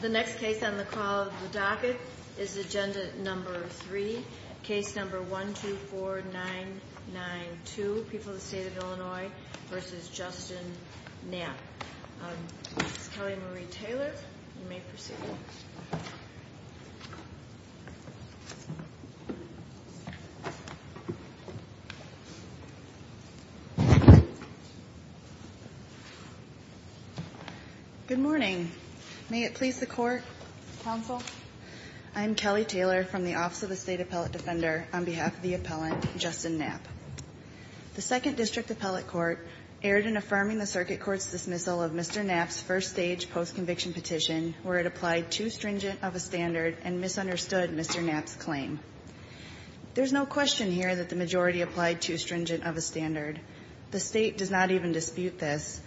The next case on the call of the docket is agenda number three, case number 124992, People of the State of Illinois v. Justin Knapp. Ms. Kelly Marie Taylor, you may proceed. Ms. Taylor Good morning. May it please the Court, Counsel, I'm Kelly Taylor from the Office of the State Appellate Defender on behalf of the appellant, Justin Knapp. The Second District Appellate Court erred in affirming the Circuit Court's dismissal of Mr. Knapp's first-stage postconviction petition, where it applied too stringent of a standard and misunderstood Mr. Knapp's claim. There's no question here that the majority applied too stringent of a standard. The State does not even dispute this.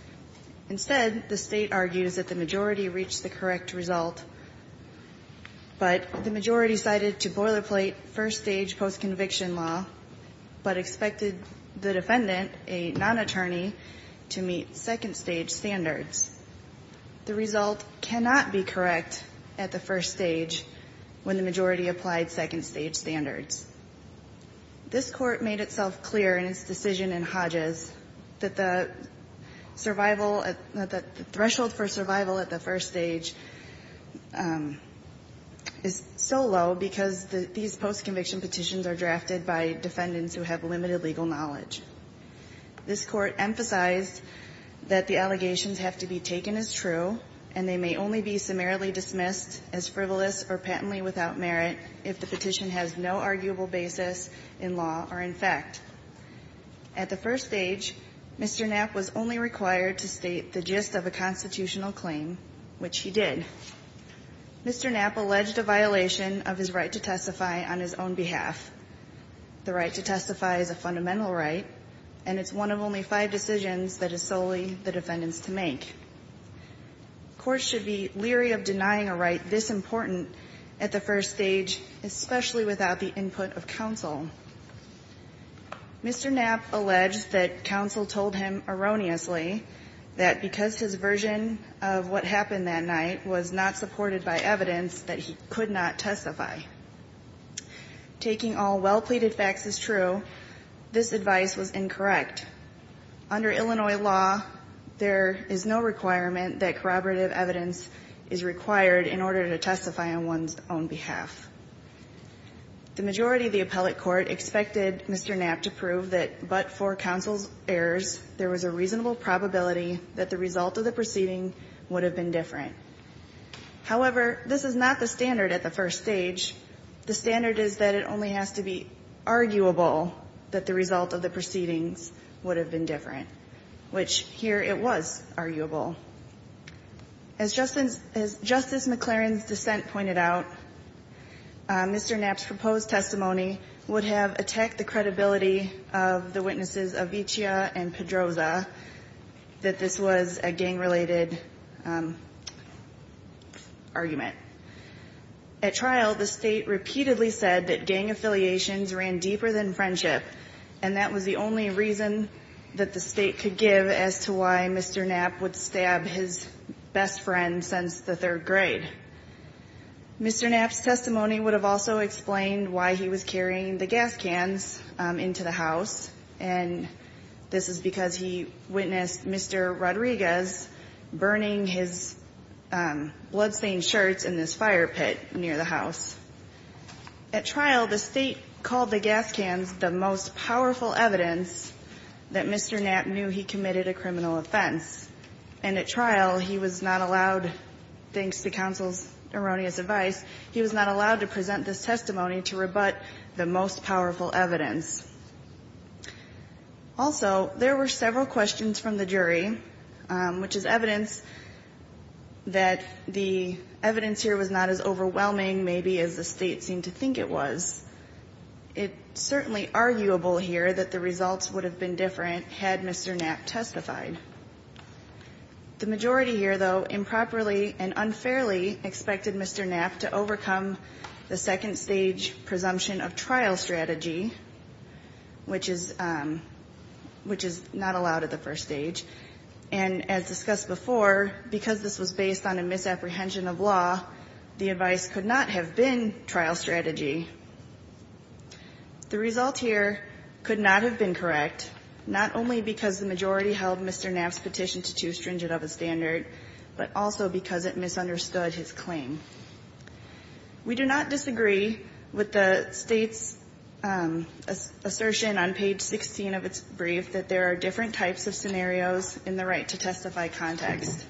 Instead, the State argues that the majority reached the correct result, but the majority cited to boilerplate first-stage postconviction law, but expected the defendant, a non-attorney, to meet second-stage standards. The result cannot be correct at the first stage when the majority applied second-stage standards. This Court made itself clear in its decision in Hodges that the survival, that the threshold for survival at the first stage is so low because these postconviction petitions are drafted by This Court emphasized that the allegations have to be taken as true, and they may only be summarily dismissed as frivolous or patently without merit if the petition has no arguable basis in law or in fact. At the first stage, Mr. Knapp was only required to state the gist of a constitutional claim, which he did. Mr. Knapp alleged a violation of his right to testify on his own behalf. The right to testify is a fundamental right, and it's one of only five decisions that is solely the defendant's to make. Courts should be leery of denying a right this important at the first stage, especially without the input of counsel. Mr. Knapp alleged that counsel told him erroneously that because his version of what happened that night was not supported by evidence, that he could not testify. Taking all well-pleaded facts as true, this advice was incorrect. Under Illinois law, there is no requirement that corroborative evidence is required in order to testify on one's own behalf. The majority of the appellate court expected Mr. Knapp to prove that but for counsel's errors, there was a reasonable probability that the result of the proceeding would have been different. However, this is not the standard at the first stage. The standard is that it only has to be arguable that the result of the proceedings would have been different, which here it was arguable. As Justice McLaren's dissent pointed out, Mr. Knapp's proposed testimony would have attacked the credibility of the witnesses Aviccia and Pedroza, that this was a gang-related argument. At trial, the State repeatedly said that gang affiliations ran deeper than friendship, and that was the only reason that the State could give as to why Mr. Knapp would stab his best friend since the third grade. Mr. Knapp's testimony would have also explained why he was carrying the gas cans into the house, and this is because he witnessed Mr. Rodriguez burning his blood-stained shirts in this fire pit near the house. At trial, the State called the gas cans the most powerful evidence that Mr. Knapp knew he committed a criminal offense. And at trial, he was not allowed, thanks to counsel's erroneous advice, he was not allowed to present this testimony to rebut the most powerful evidence. Also, there were several questions from the jury, which is evidence that the evidence here was not as overwhelming, maybe, as the State seemed to think it was. It's certainly arguable here that the results would have been different had Mr. Knapp testified. The majority here, though, improperly and unfairly expected Mr. Knapp to overcome the second-stage presumption of trial strategy, which is not allowed at the first stage. And as discussed before, because this was based on a misapprehension of law, the advice could not have been trial strategy. The result here could not have been correct, not only because the majority held Mr. Knapp's petition to too stringent of a standard, but also because it misunderstood his claim. We do not disagree with the State's assertion on page 16 of its brief that there are different types of scenarios in the right-to-testify context.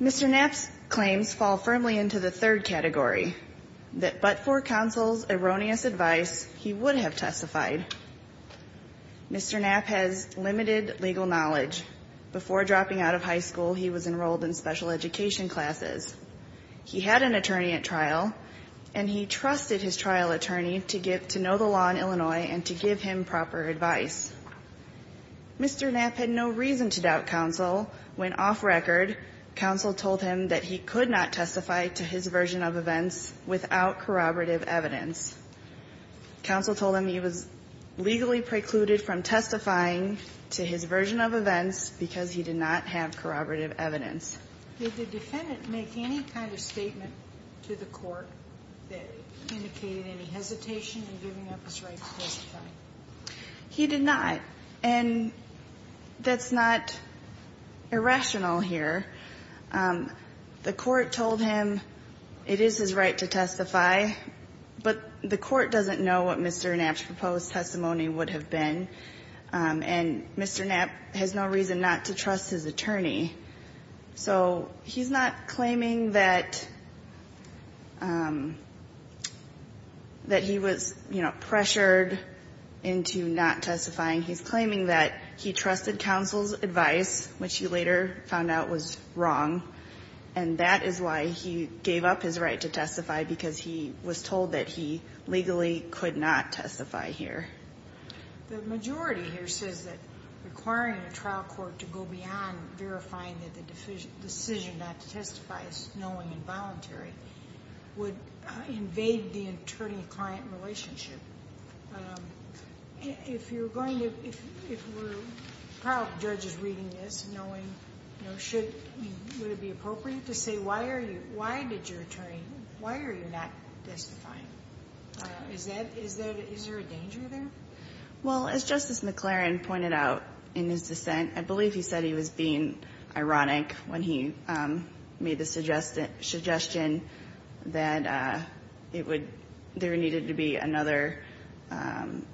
Mr. Knapp's claims fall firmly into the third category, that but for counsel's erroneous advice, he would have testified. Mr. Knapp has limited legal knowledge. Before dropping out of high school, he was enrolled in special education classes. He had an attorney at trial, and he trusted his trial attorney to know the law in Illinois and to give him proper advice. Mr. Knapp had no reason to doubt counsel when, off record, counsel told him that he could not testify to his version of events without corroborative evidence. Counsel told him he was legally precluded from testifying to his version of events because he did not have corroborative Sotomayor, did the defendant make any kind of statement to the Court that indicated any hesitation in giving up his right to testify? He did not. And that's not irrational here. The Court told him that he could not testify to his version of events without corroborative evidence. Counsel told him it is his right to testify, but the Court doesn't know what Mr. Knapp's proposed testimony would have been, and Mr. Knapp has no reason not to trust his attorney. So he's not claiming that he was, you know, pressured into not testifying. He's claiming that he trusted counsel's advice, which he later found out was wrong, and that is why he gave up his right to testify, because he was told that he legally could not testify here. The majority here says that requiring a trial court to go beyond verifying that the decision not to testify is knowing and voluntary would invade the attorney-client relationship. If you're going to, if we're proud judges reading this, knowing, you know, should, would it be appropriate to say why are you, why did your attorney, why are you not testifying? Is that, is there a danger there? Well, as Justice McClaren pointed out in his dissent, I believe he said he was being another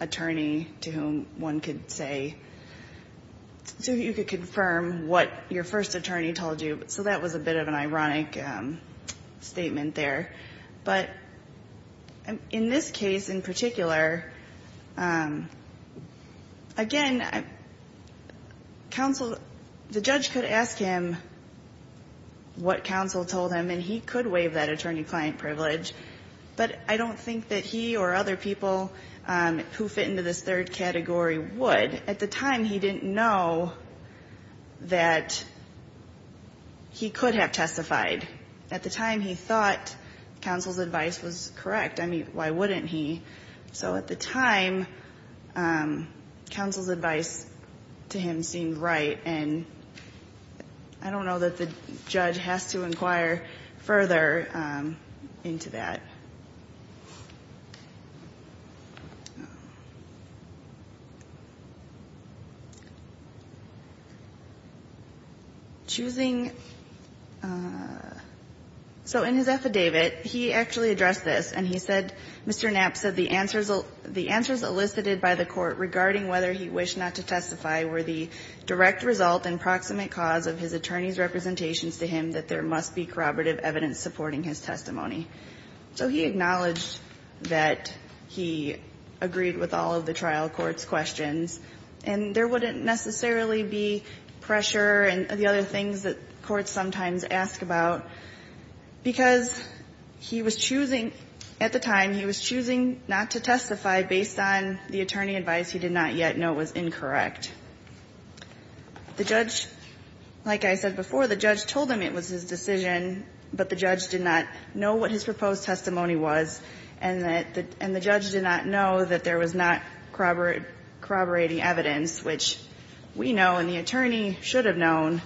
attorney to whom one could say, so you could confirm what your first attorney told you. So that was a bit of an ironic statement there. But in this case in particular, again, counsel, the judge could ask him what counsel told him, and he could waive that attorney-client privilege. But I don't think that he or other people who fit into this third category would. At the time, he didn't know that he could have testified. At the time, he thought counsel's advice was correct. I mean, why wouldn't he? So at the time, counsel's advice to him seemed right, and I don't know that the judge has to inquire further into that. Choosing so in his affidavit, he actually addressed this, and he said, Mr. Knapp said the answers, the answers elicited by the court regarding whether he wished not to testify were the direct result and proximate cause of his attorney's representations to him that there might be a potential or there must be corroborative evidence supporting his testimony. So he acknowledged that he agreed with all of the trial court's questions, and there wouldn't necessarily be pressure and the other things that courts sometimes ask about, because he was choosing at the time, he was choosing not to testify based on the attorney advice he did not yet know was incorrect. The judge, like I said before, the judge told him it was his decision, but the judge did not know what his proposed testimony was, and the judge did not know that there was not corroborating evidence, which we know and the attorney should have known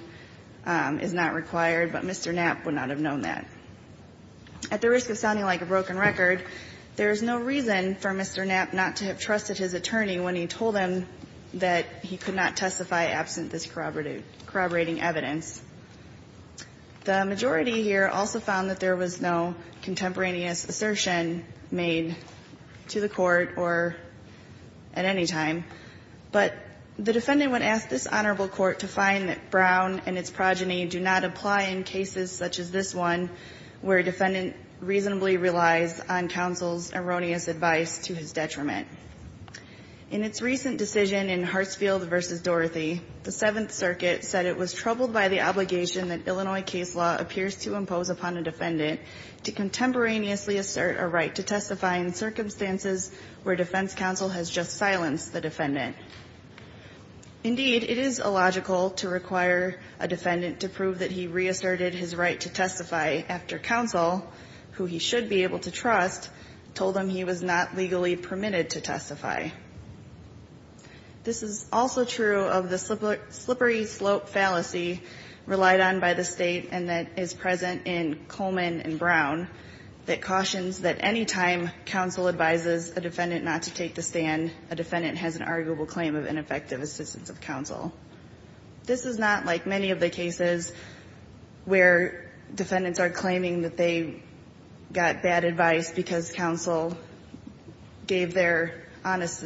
is not required, but Mr. Knapp would not have known that. At the risk of sounding like a broken record, there is no reason for Mr. Knapp not to have trusted his attorney when he told him that he could not testify absent this corroborating evidence. The majority here also found that there was no contemporaneous assertion made to the court or at any time, but the defendant would ask this honorable court to find that Brown and its progeny do not apply in cases such as this one where a defendant reasonably relies on counsel's erroneous advice to his detriment. In its recent decision in Hartsfield v. Dorothy, the Seventh Circuit said it was troubled by the obligation that Illinois case law appears to impose upon a defendant to contemporaneously assert a right to testify in circumstances where defense counsel has just silenced the defendant. Indeed, it is illogical to require a defendant to prove that he reasserted his right to testify after counsel, who he should be able to trust, told him he was not legally permitted to testify. This is also true of the slippery slope fallacy relied on by the State and that is present in Coleman and Brown that cautions that any time counsel advises a defendant not to take the stand, a defendant has an arguable claim of ineffective assistance of counsel. This is not like many of the cases where defendants are claiming that they got bad advice because counsel gave their honest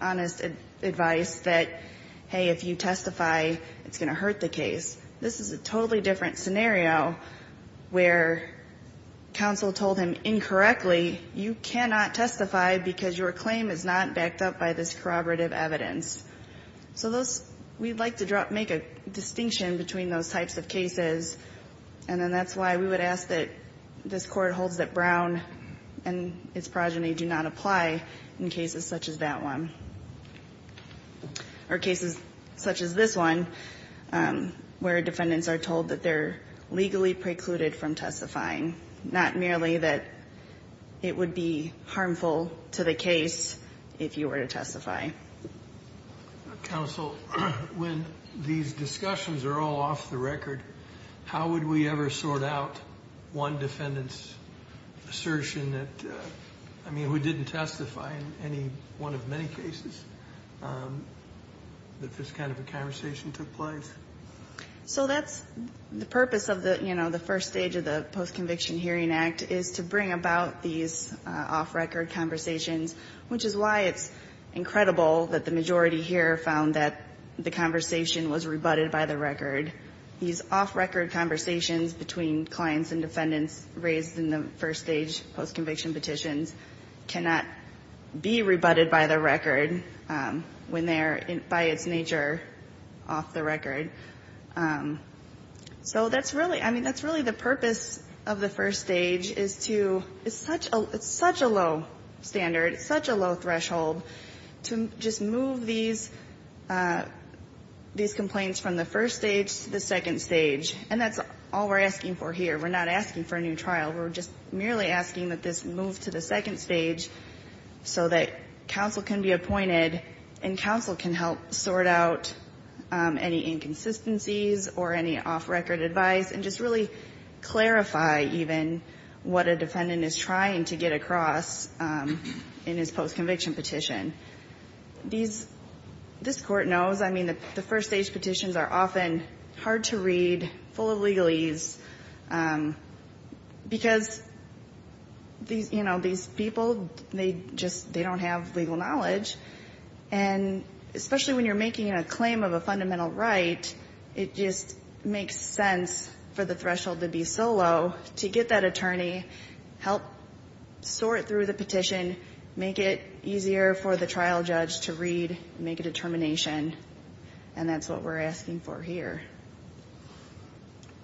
advice that, hey, if you testify, it's going to hurt the case. This is a totally different scenario where counsel told him incorrectly, you cannot testify because your claim is not backed up by this corroborative evidence. So those we'd like to make a distinction between those types of cases, and then that's why we would ask that this Court holds that Brown and its progeny do not apply in cases such as that one or cases such as this one, where defendants are told that they're legally precluded from testifying, not merely that it would be harmful to the case if you were to testify. Counsel, when these discussions are all off the record, how would we ever sort out one defendant's assertion that, I mean, who didn't testify in any one of many cases that this kind of a conversation took place? So that's the purpose of the, you know, the first stage of the Post-Conviction Hearing Act, is to bring about these off-record conversations, which is why it's incredible that the majority here found that the conversation was rebutted by the record. These off-record conversations between clients and defendants raised in the first stage post-conviction petitions cannot be rebutted by the record when they're by its nature off the record. So that's really, I mean, that's really the purpose of the first stage, is to, it's such a low standard, it's such a low threshold, to just move these complaints from the first stage to the second stage. And that's all we're asking for here. We're not asking for a new trial. We're just merely asking that this move to the second stage, so that counsel can be appointed and counsel can help sort out any inconsistencies or any off-record advice and just really clarify even what a defendant is trying to get across in his post-conviction petition. These, this Court knows, I mean, the first stage petitions are often hard to read, full of legalese, because these, you know, these people, they just, they don't have legal knowledge. And especially when you're making a claim of a fundamental right, it just makes sense for the threshold to be so low to get that attorney, help sort through the petition, make it easier for the trial judge to read, make a determination. And that's what we're asking for here.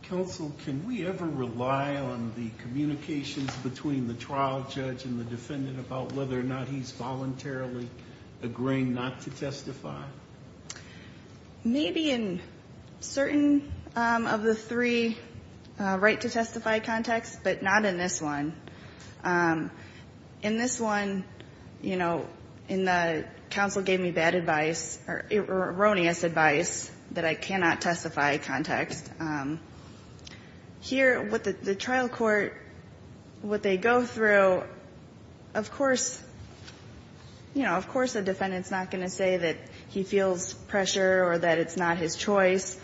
Counsel, can we ever rely on the communications between the trial judge and the defendant about whether or not he's voluntarily agreeing not to testify? Maybe in certain of the three right to testify contexts, but not in this one. In this one, you know, in the counsel gave me bad advice or erroneous advice that I cannot testify context. Here, with the trial court, what they go through, of course, you know, of course a defendant's not going to say that he feels pressure or that it's not his choice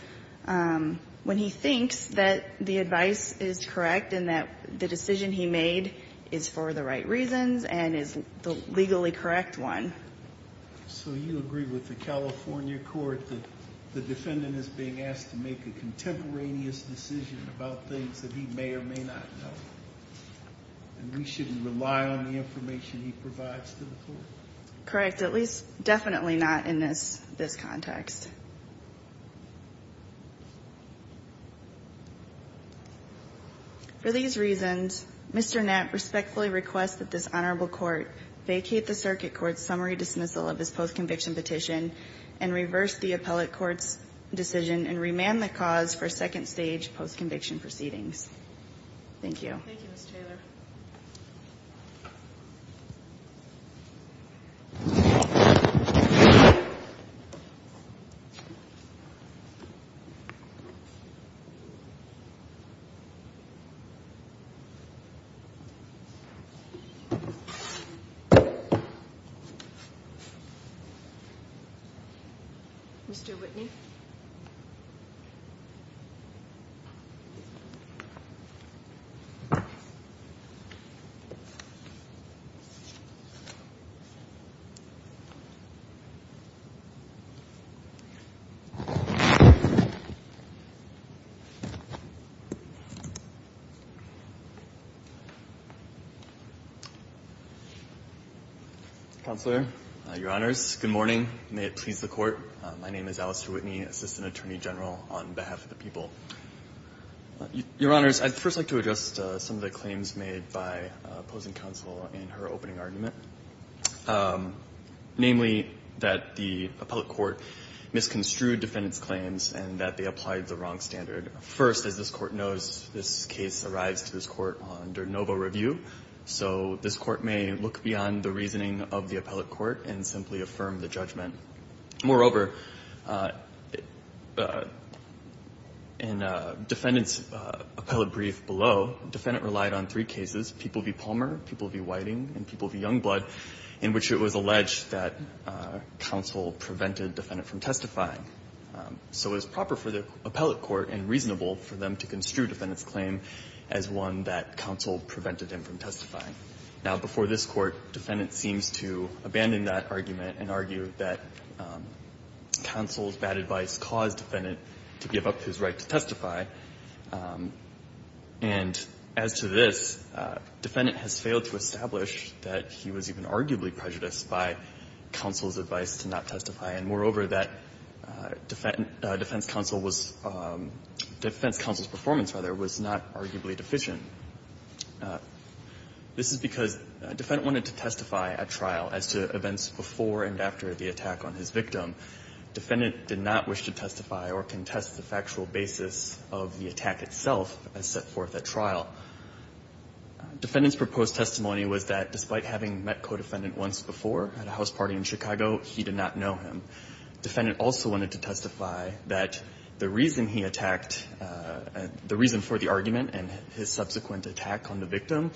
when he thinks that the advice is correct and that the decision he made is for the right one. So you agree with the California court that the defendant is being asked to make a contemporaneous decision about things that he may or may not know? And we shouldn't rely on the information he provides to the court? Correct. At least, definitely not in this context. For these reasons, Mr. Knapp respectfully requests that this honorable court vacate the circuit court's summary dismissal of his post-conviction petition and reverse the appellate court's decision and remand the cause for second stage post-conviction proceedings. Thank you. Thank you, Ms. Taylor. Thank you, Mr. Knapp. Counselor, Your Honors, good morning. May it please the Court. My name is Alistair Whitney, Assistant Attorney General on behalf of the people. Your Honors, I'd first like to address some of the claims made by opposing counsel in her opening argument, namely that the appellate court misconstrued defendant's claims and that they applied the wrong standard. First, as this Court knows, this case arrives to this Court under novo review, so this Court may look beyond the reasoning of the appellate court and simply affirm the judgment. Moreover, in defendant's appellate brief below, defendant relied on three cases, people v. Palmer, people v. Whiting, and people v. Youngblood, in which it was alleged that counsel prevented defendant from testifying. So it was proper for the appellate court and reasonable for them to construe defendant's claim as one that counsel prevented him from testifying. Now, before this Court, defendant seems to abandon that argument and argue that counsel's advice to not testify, and as to this, defendant has failed to establish that he was even arguably prejudiced by counsel's advice to not testify, and moreover, that defense counsel was – defense counsel's performance, rather, was not arguably deficient. This is because defendant wanted to testify at trial as to events before and after the attack on his victim. Defendant did not wish to testify or contest the factual basis of the attack itself as set forth at trial. Defendant's proposed testimony was that despite having met co-defendant once before at a house party in Chicago, he did not know him. Defendant also wanted to testify that the reason he attacked – the reason for the argument and his subsequent attack on the victim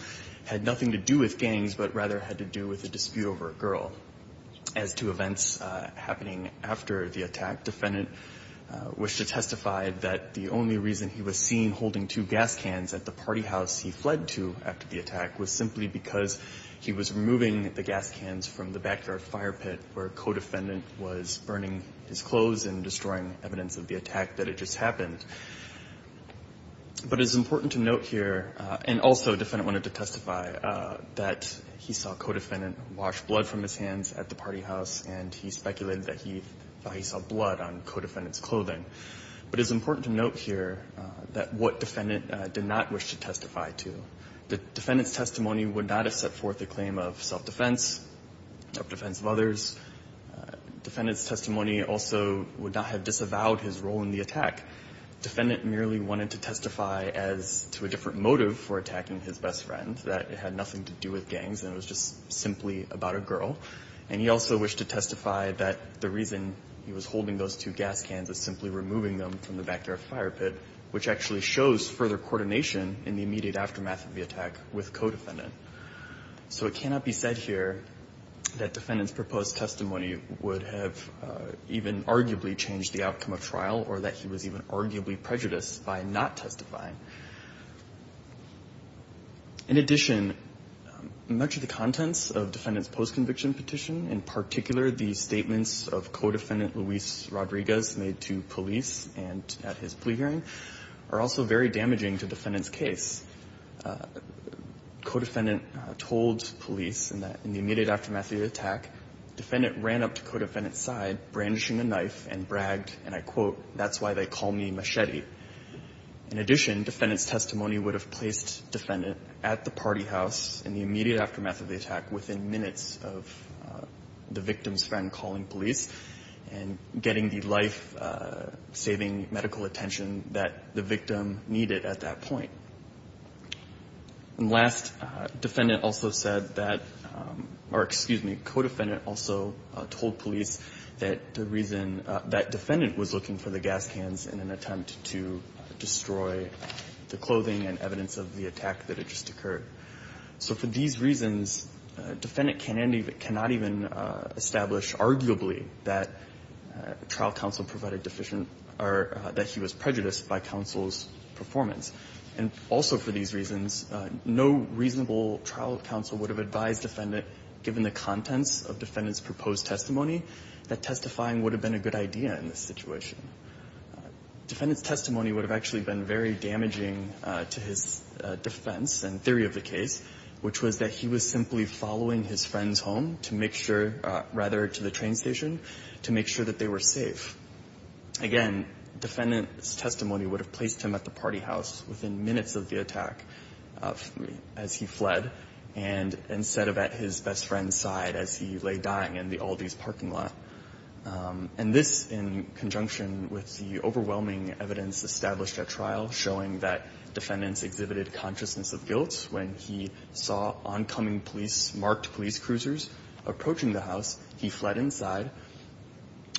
had nothing to do with gangs, but rather had to do with a dispute over a girl. As to events happening after the attack, defendant wished to testify that the only reason he was seen holding two gas cans at the party house he fled to after the attack was simply because he was removing the gas cans from the backyard fire pit where co-defendant was burning his clothes and destroying evidence of the attack that had just happened. But it's important to note here, and also defendant wanted to testify, that he saw co-defendant wash blood from his hands at the party house and he speculated that he saw blood on co-defendant's clothing. But it's important to note here that what defendant did not wish to testify to. The defendant's testimony would not have set forth the claim of self-defense, self-defense of others. Defendant's testimony also would not have disavowed his role in the attack. Defendant merely wanted to testify as – to a different motive for attacking his best friend, that it had nothing to do with gangs and it was just simply about a girl. And he also wished to testify that the reason he was holding those two gas cans was simply removing them from the backyard fire pit, which actually shows further coordination in the immediate aftermath of the attack with co-defendant. So it cannot be said here that defendant's proposed testimony would have even arguably changed the outcome of trial or that he was even arguably prejudiced by not testifying. In addition, much of the contents of defendant's post-conviction petition, in particular the statements of co-defendant Luis Rodriguez made to police and at his plea hearing, are also very damaging to defendant's case. Co-defendant told police that in the immediate aftermath of the attack, defendant ran up to co-defendant's side, brandishing a knife and bragged, and I quote, that's why they call me machete. In addition, defendant's testimony would have placed defendant at the party house in the immediate aftermath of the attack within minutes of the victim's friend calling police and getting the life-saving medical attention that the victim needed at that point. And last, defendant also said that, or excuse me, co-defendant also told police that the reason that defendant was looking for the gas cans in an attempt to destroy the clothing and evidence of the attack that had just occurred. So for these reasons, defendant cannot even establish arguably that trial counsel provided deficient or that he was prejudiced by counsel's performance. And also for these reasons, no reasonable trial counsel would have advised defendant, given the contents of defendant's proposed testimony, that testifying would have been a good idea in this situation. Defendant's testimony would have actually been very damaging to his defense and theory of the case, which was that he was simply following his friend's home to make sure rather to the train station to make sure that they were safe. Again, defendant's testimony would have placed him at the party house within minutes of the attack as he fled and instead of at his best friend's side as he lay dying in the Aldi's parking lot. And this in conjunction with the overwhelming evidence established at trial showing that defendants exhibited consciousness of guilt when he saw oncoming police, parked police cruisers approaching the house. He fled inside.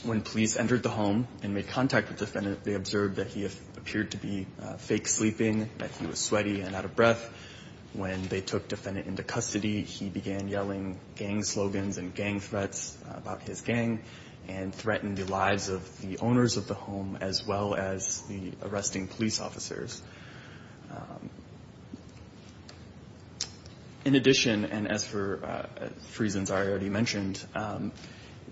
When police entered the home and made contact with defendant, they observed that he appeared to be fake sleeping, that he was sweaty and out of breath. When they took defendant into custody, he began yelling gang slogans and gang threats about his gang and threatened the lives of the owners of the home as well as the arresting police officers. In addition, and as for reasons I already mentioned,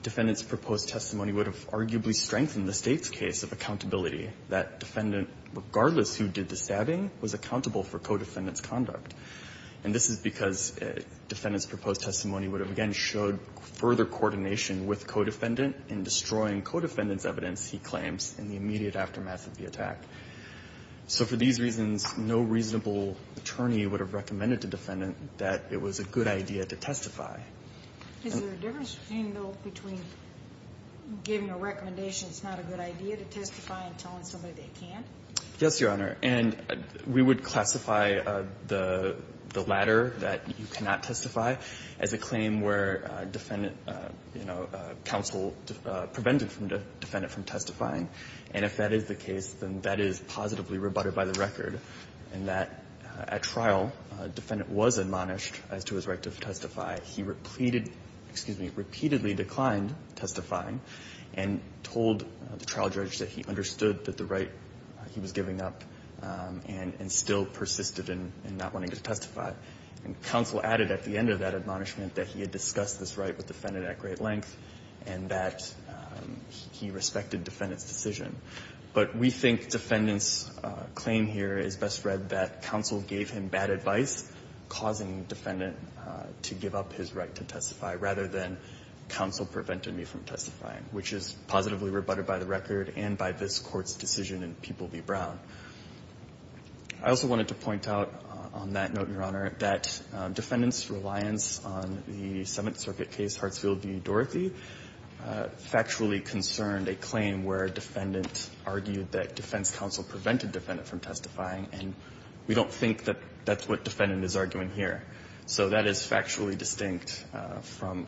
defendant's proposed testimony would have arguably strengthened the state's case of accountability that defendant, regardless who did the stabbing, was accountable for co-defendant's conduct. And this is because defendant's proposed testimony would have again showed further coordination with co-defendant in destroying co-defendant's evidence, he claims, in the immediate aftermath of the attack. So for these reasons, no reasonable attorney would have recommended to defendant that it was a good idea to testify. Is there a difference between, though, between giving a recommendation it's not a good idea to testify and telling somebody they can't? Yes, Your Honor. And we would classify the latter, that you cannot testify, as a claim where defendant counsel prevented defendant from testifying. And if that is the case, then that is positively rebutted by the record in that, at trial, defendant was admonished as to his right to testify. He repeatedly declined testifying and told the trial judge that he understood that the right he was giving up and still persisted in not wanting to testify. And counsel added at the end of that admonishment that he had discussed this right with defendant at great length and that he respected defendant's decision. But we think defendant's claim here is best read that counsel gave him bad advice, causing defendant to give up his right to testify, rather than counsel prevented me from testifying, which is positively rebutted by the record and by this Court's decision in People v. Brown. I also wanted to point out on that note, Your Honor, that defendant's reliance on the Seventh Circuit case, Hartsfield v. Dorothy, factually concerned a claim where defendant argued that defense counsel prevented defendant from testifying. And we don't think that that's what defendant is arguing here. So that is factually distinct from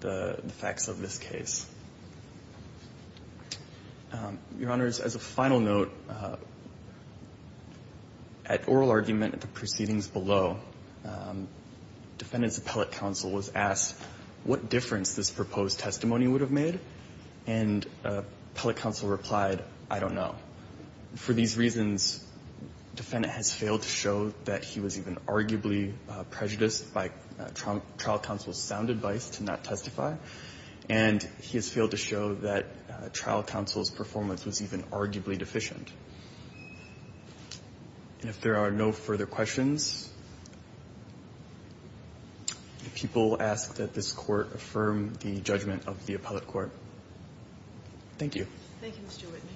the facts of this case. Your Honors, as a final note, at oral argument at the proceedings below, defendant 's appellate counsel was asked what difference this proposed testimony would have made, and appellate counsel replied, I don't know. For these reasons, defendant has failed to show that he was even arguably prejudiced by trial counsel's sound advice to not testify, and he has failed to show that trial counsel's performance was even arguably deficient. And if there are no further questions, the people ask that this Court affirm the judgment of the appellate court. Thank you. Thank you, Mr. Whitney.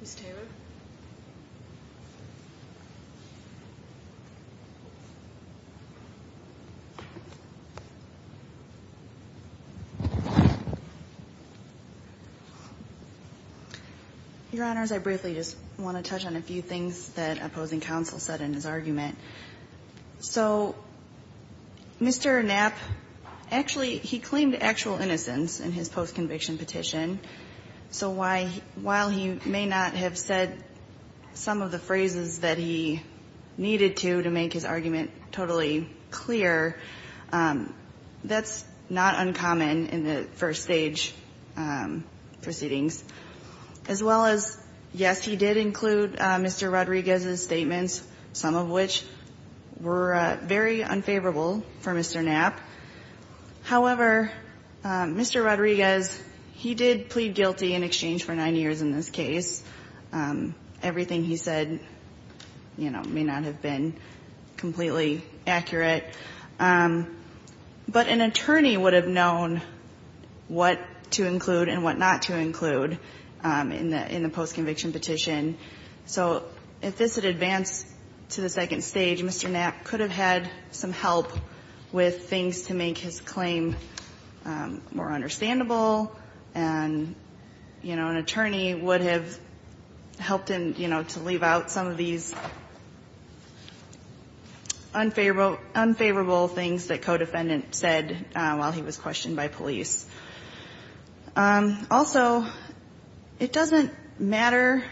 Ms. Taylor? Your Honors, I briefly just want to touch on a few things that opposing counsel said in his argument. So Mr. Knapp, actually, he claimed actual innocence in his post-conviction petition. So while he may not have said some of the phrases that he needed to to make his argument totally clear, that's not uncommon in the first stage proceedings. As well as, yes, he did include Mr. Rodriguez's statements, some of which were very unfavorable for Mr. Knapp. However, Mr. Rodriguez, he did plead guilty in exchange for nine years in this case. Everything he said, you know, may not have been completely accurate. But an attorney would have known what to include and what not to include in the post-conviction petition. So if this had advanced to the second stage, Mr. Knapp could have had some help with things to make his claim more understandable. And, you know, an attorney would have helped him, you know, to leave out some of these unfavorable things that co-defendant said while he was questioned by police. Also, it doesn't matter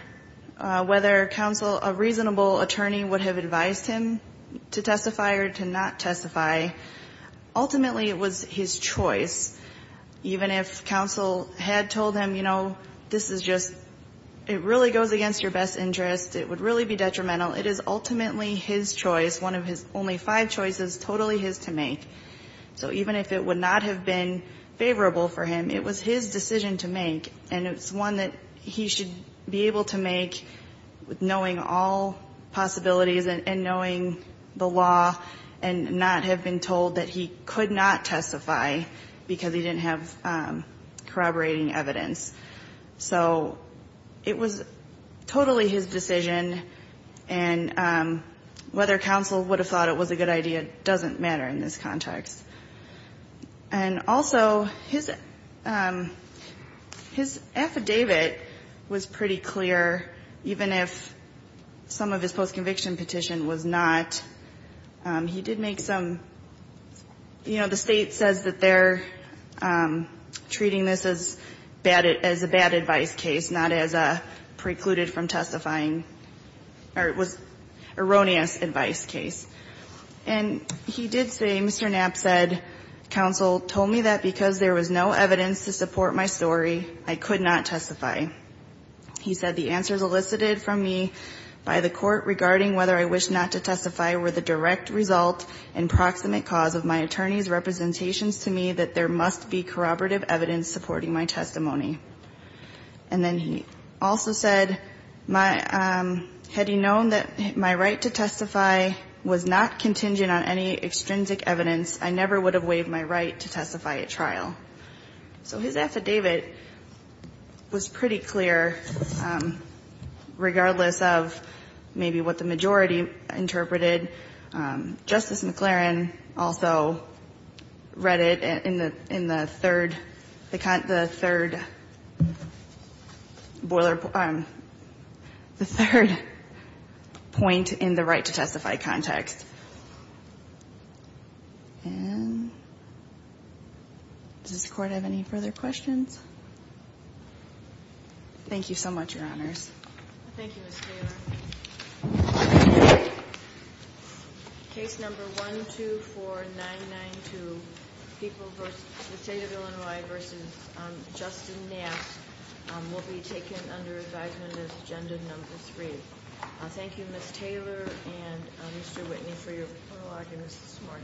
whether counsel, a reasonable attorney would have advised him to testify or to not testify, ultimately it was his choice. Even if counsel had told him, you know, this is just, it really goes against your best interest, it would really be detrimental, it is ultimately his choice, one of his only five choices, totally his to make. So even if it would not have been favorable for him, it was his decision to make. And it's one that he should be able to make with knowing all possibilities and knowing the law and not have been told that he could not testify because he didn't have corroborating evidence. So it was totally his decision, and whether counsel would have thought it was a good idea doesn't matter in this context. And also, his affidavit was pretty clear, even if some of his post-conviction petition was not. He did make some, you know, the State says that they're treating this as a bad advice case, not as a precluded from testifying, or it was erroneous advice case. And he did say, Mr. Knapp said, counsel told me that because there was no evidence to support my story, I could not testify. He said the answers elicited from me by the court regarding whether I wish not to testify were the direct result and proximate cause of my attorney's representations to me that there must be corroborative evidence supporting my testimony. And then he also said, had he known that my right to testify was not contingent on any extrinsic evidence, I never would have waived my right to testify at trial. So his affidavit was pretty clear, regardless of maybe what the majority interpreted. Justice McLaren also read it in the third, the third boiler point, the third point in the right to testify context. And does the Court have any further questions? Thank you so much, Your Honors. Thank you, Ms. Taylor. Case number 124992, People v. the State of Illinois v. Justin Knapp will be taken under advisement as agenda number three. Thank you, Ms. Taylor and Mr. Whitney for your prologue and this morning.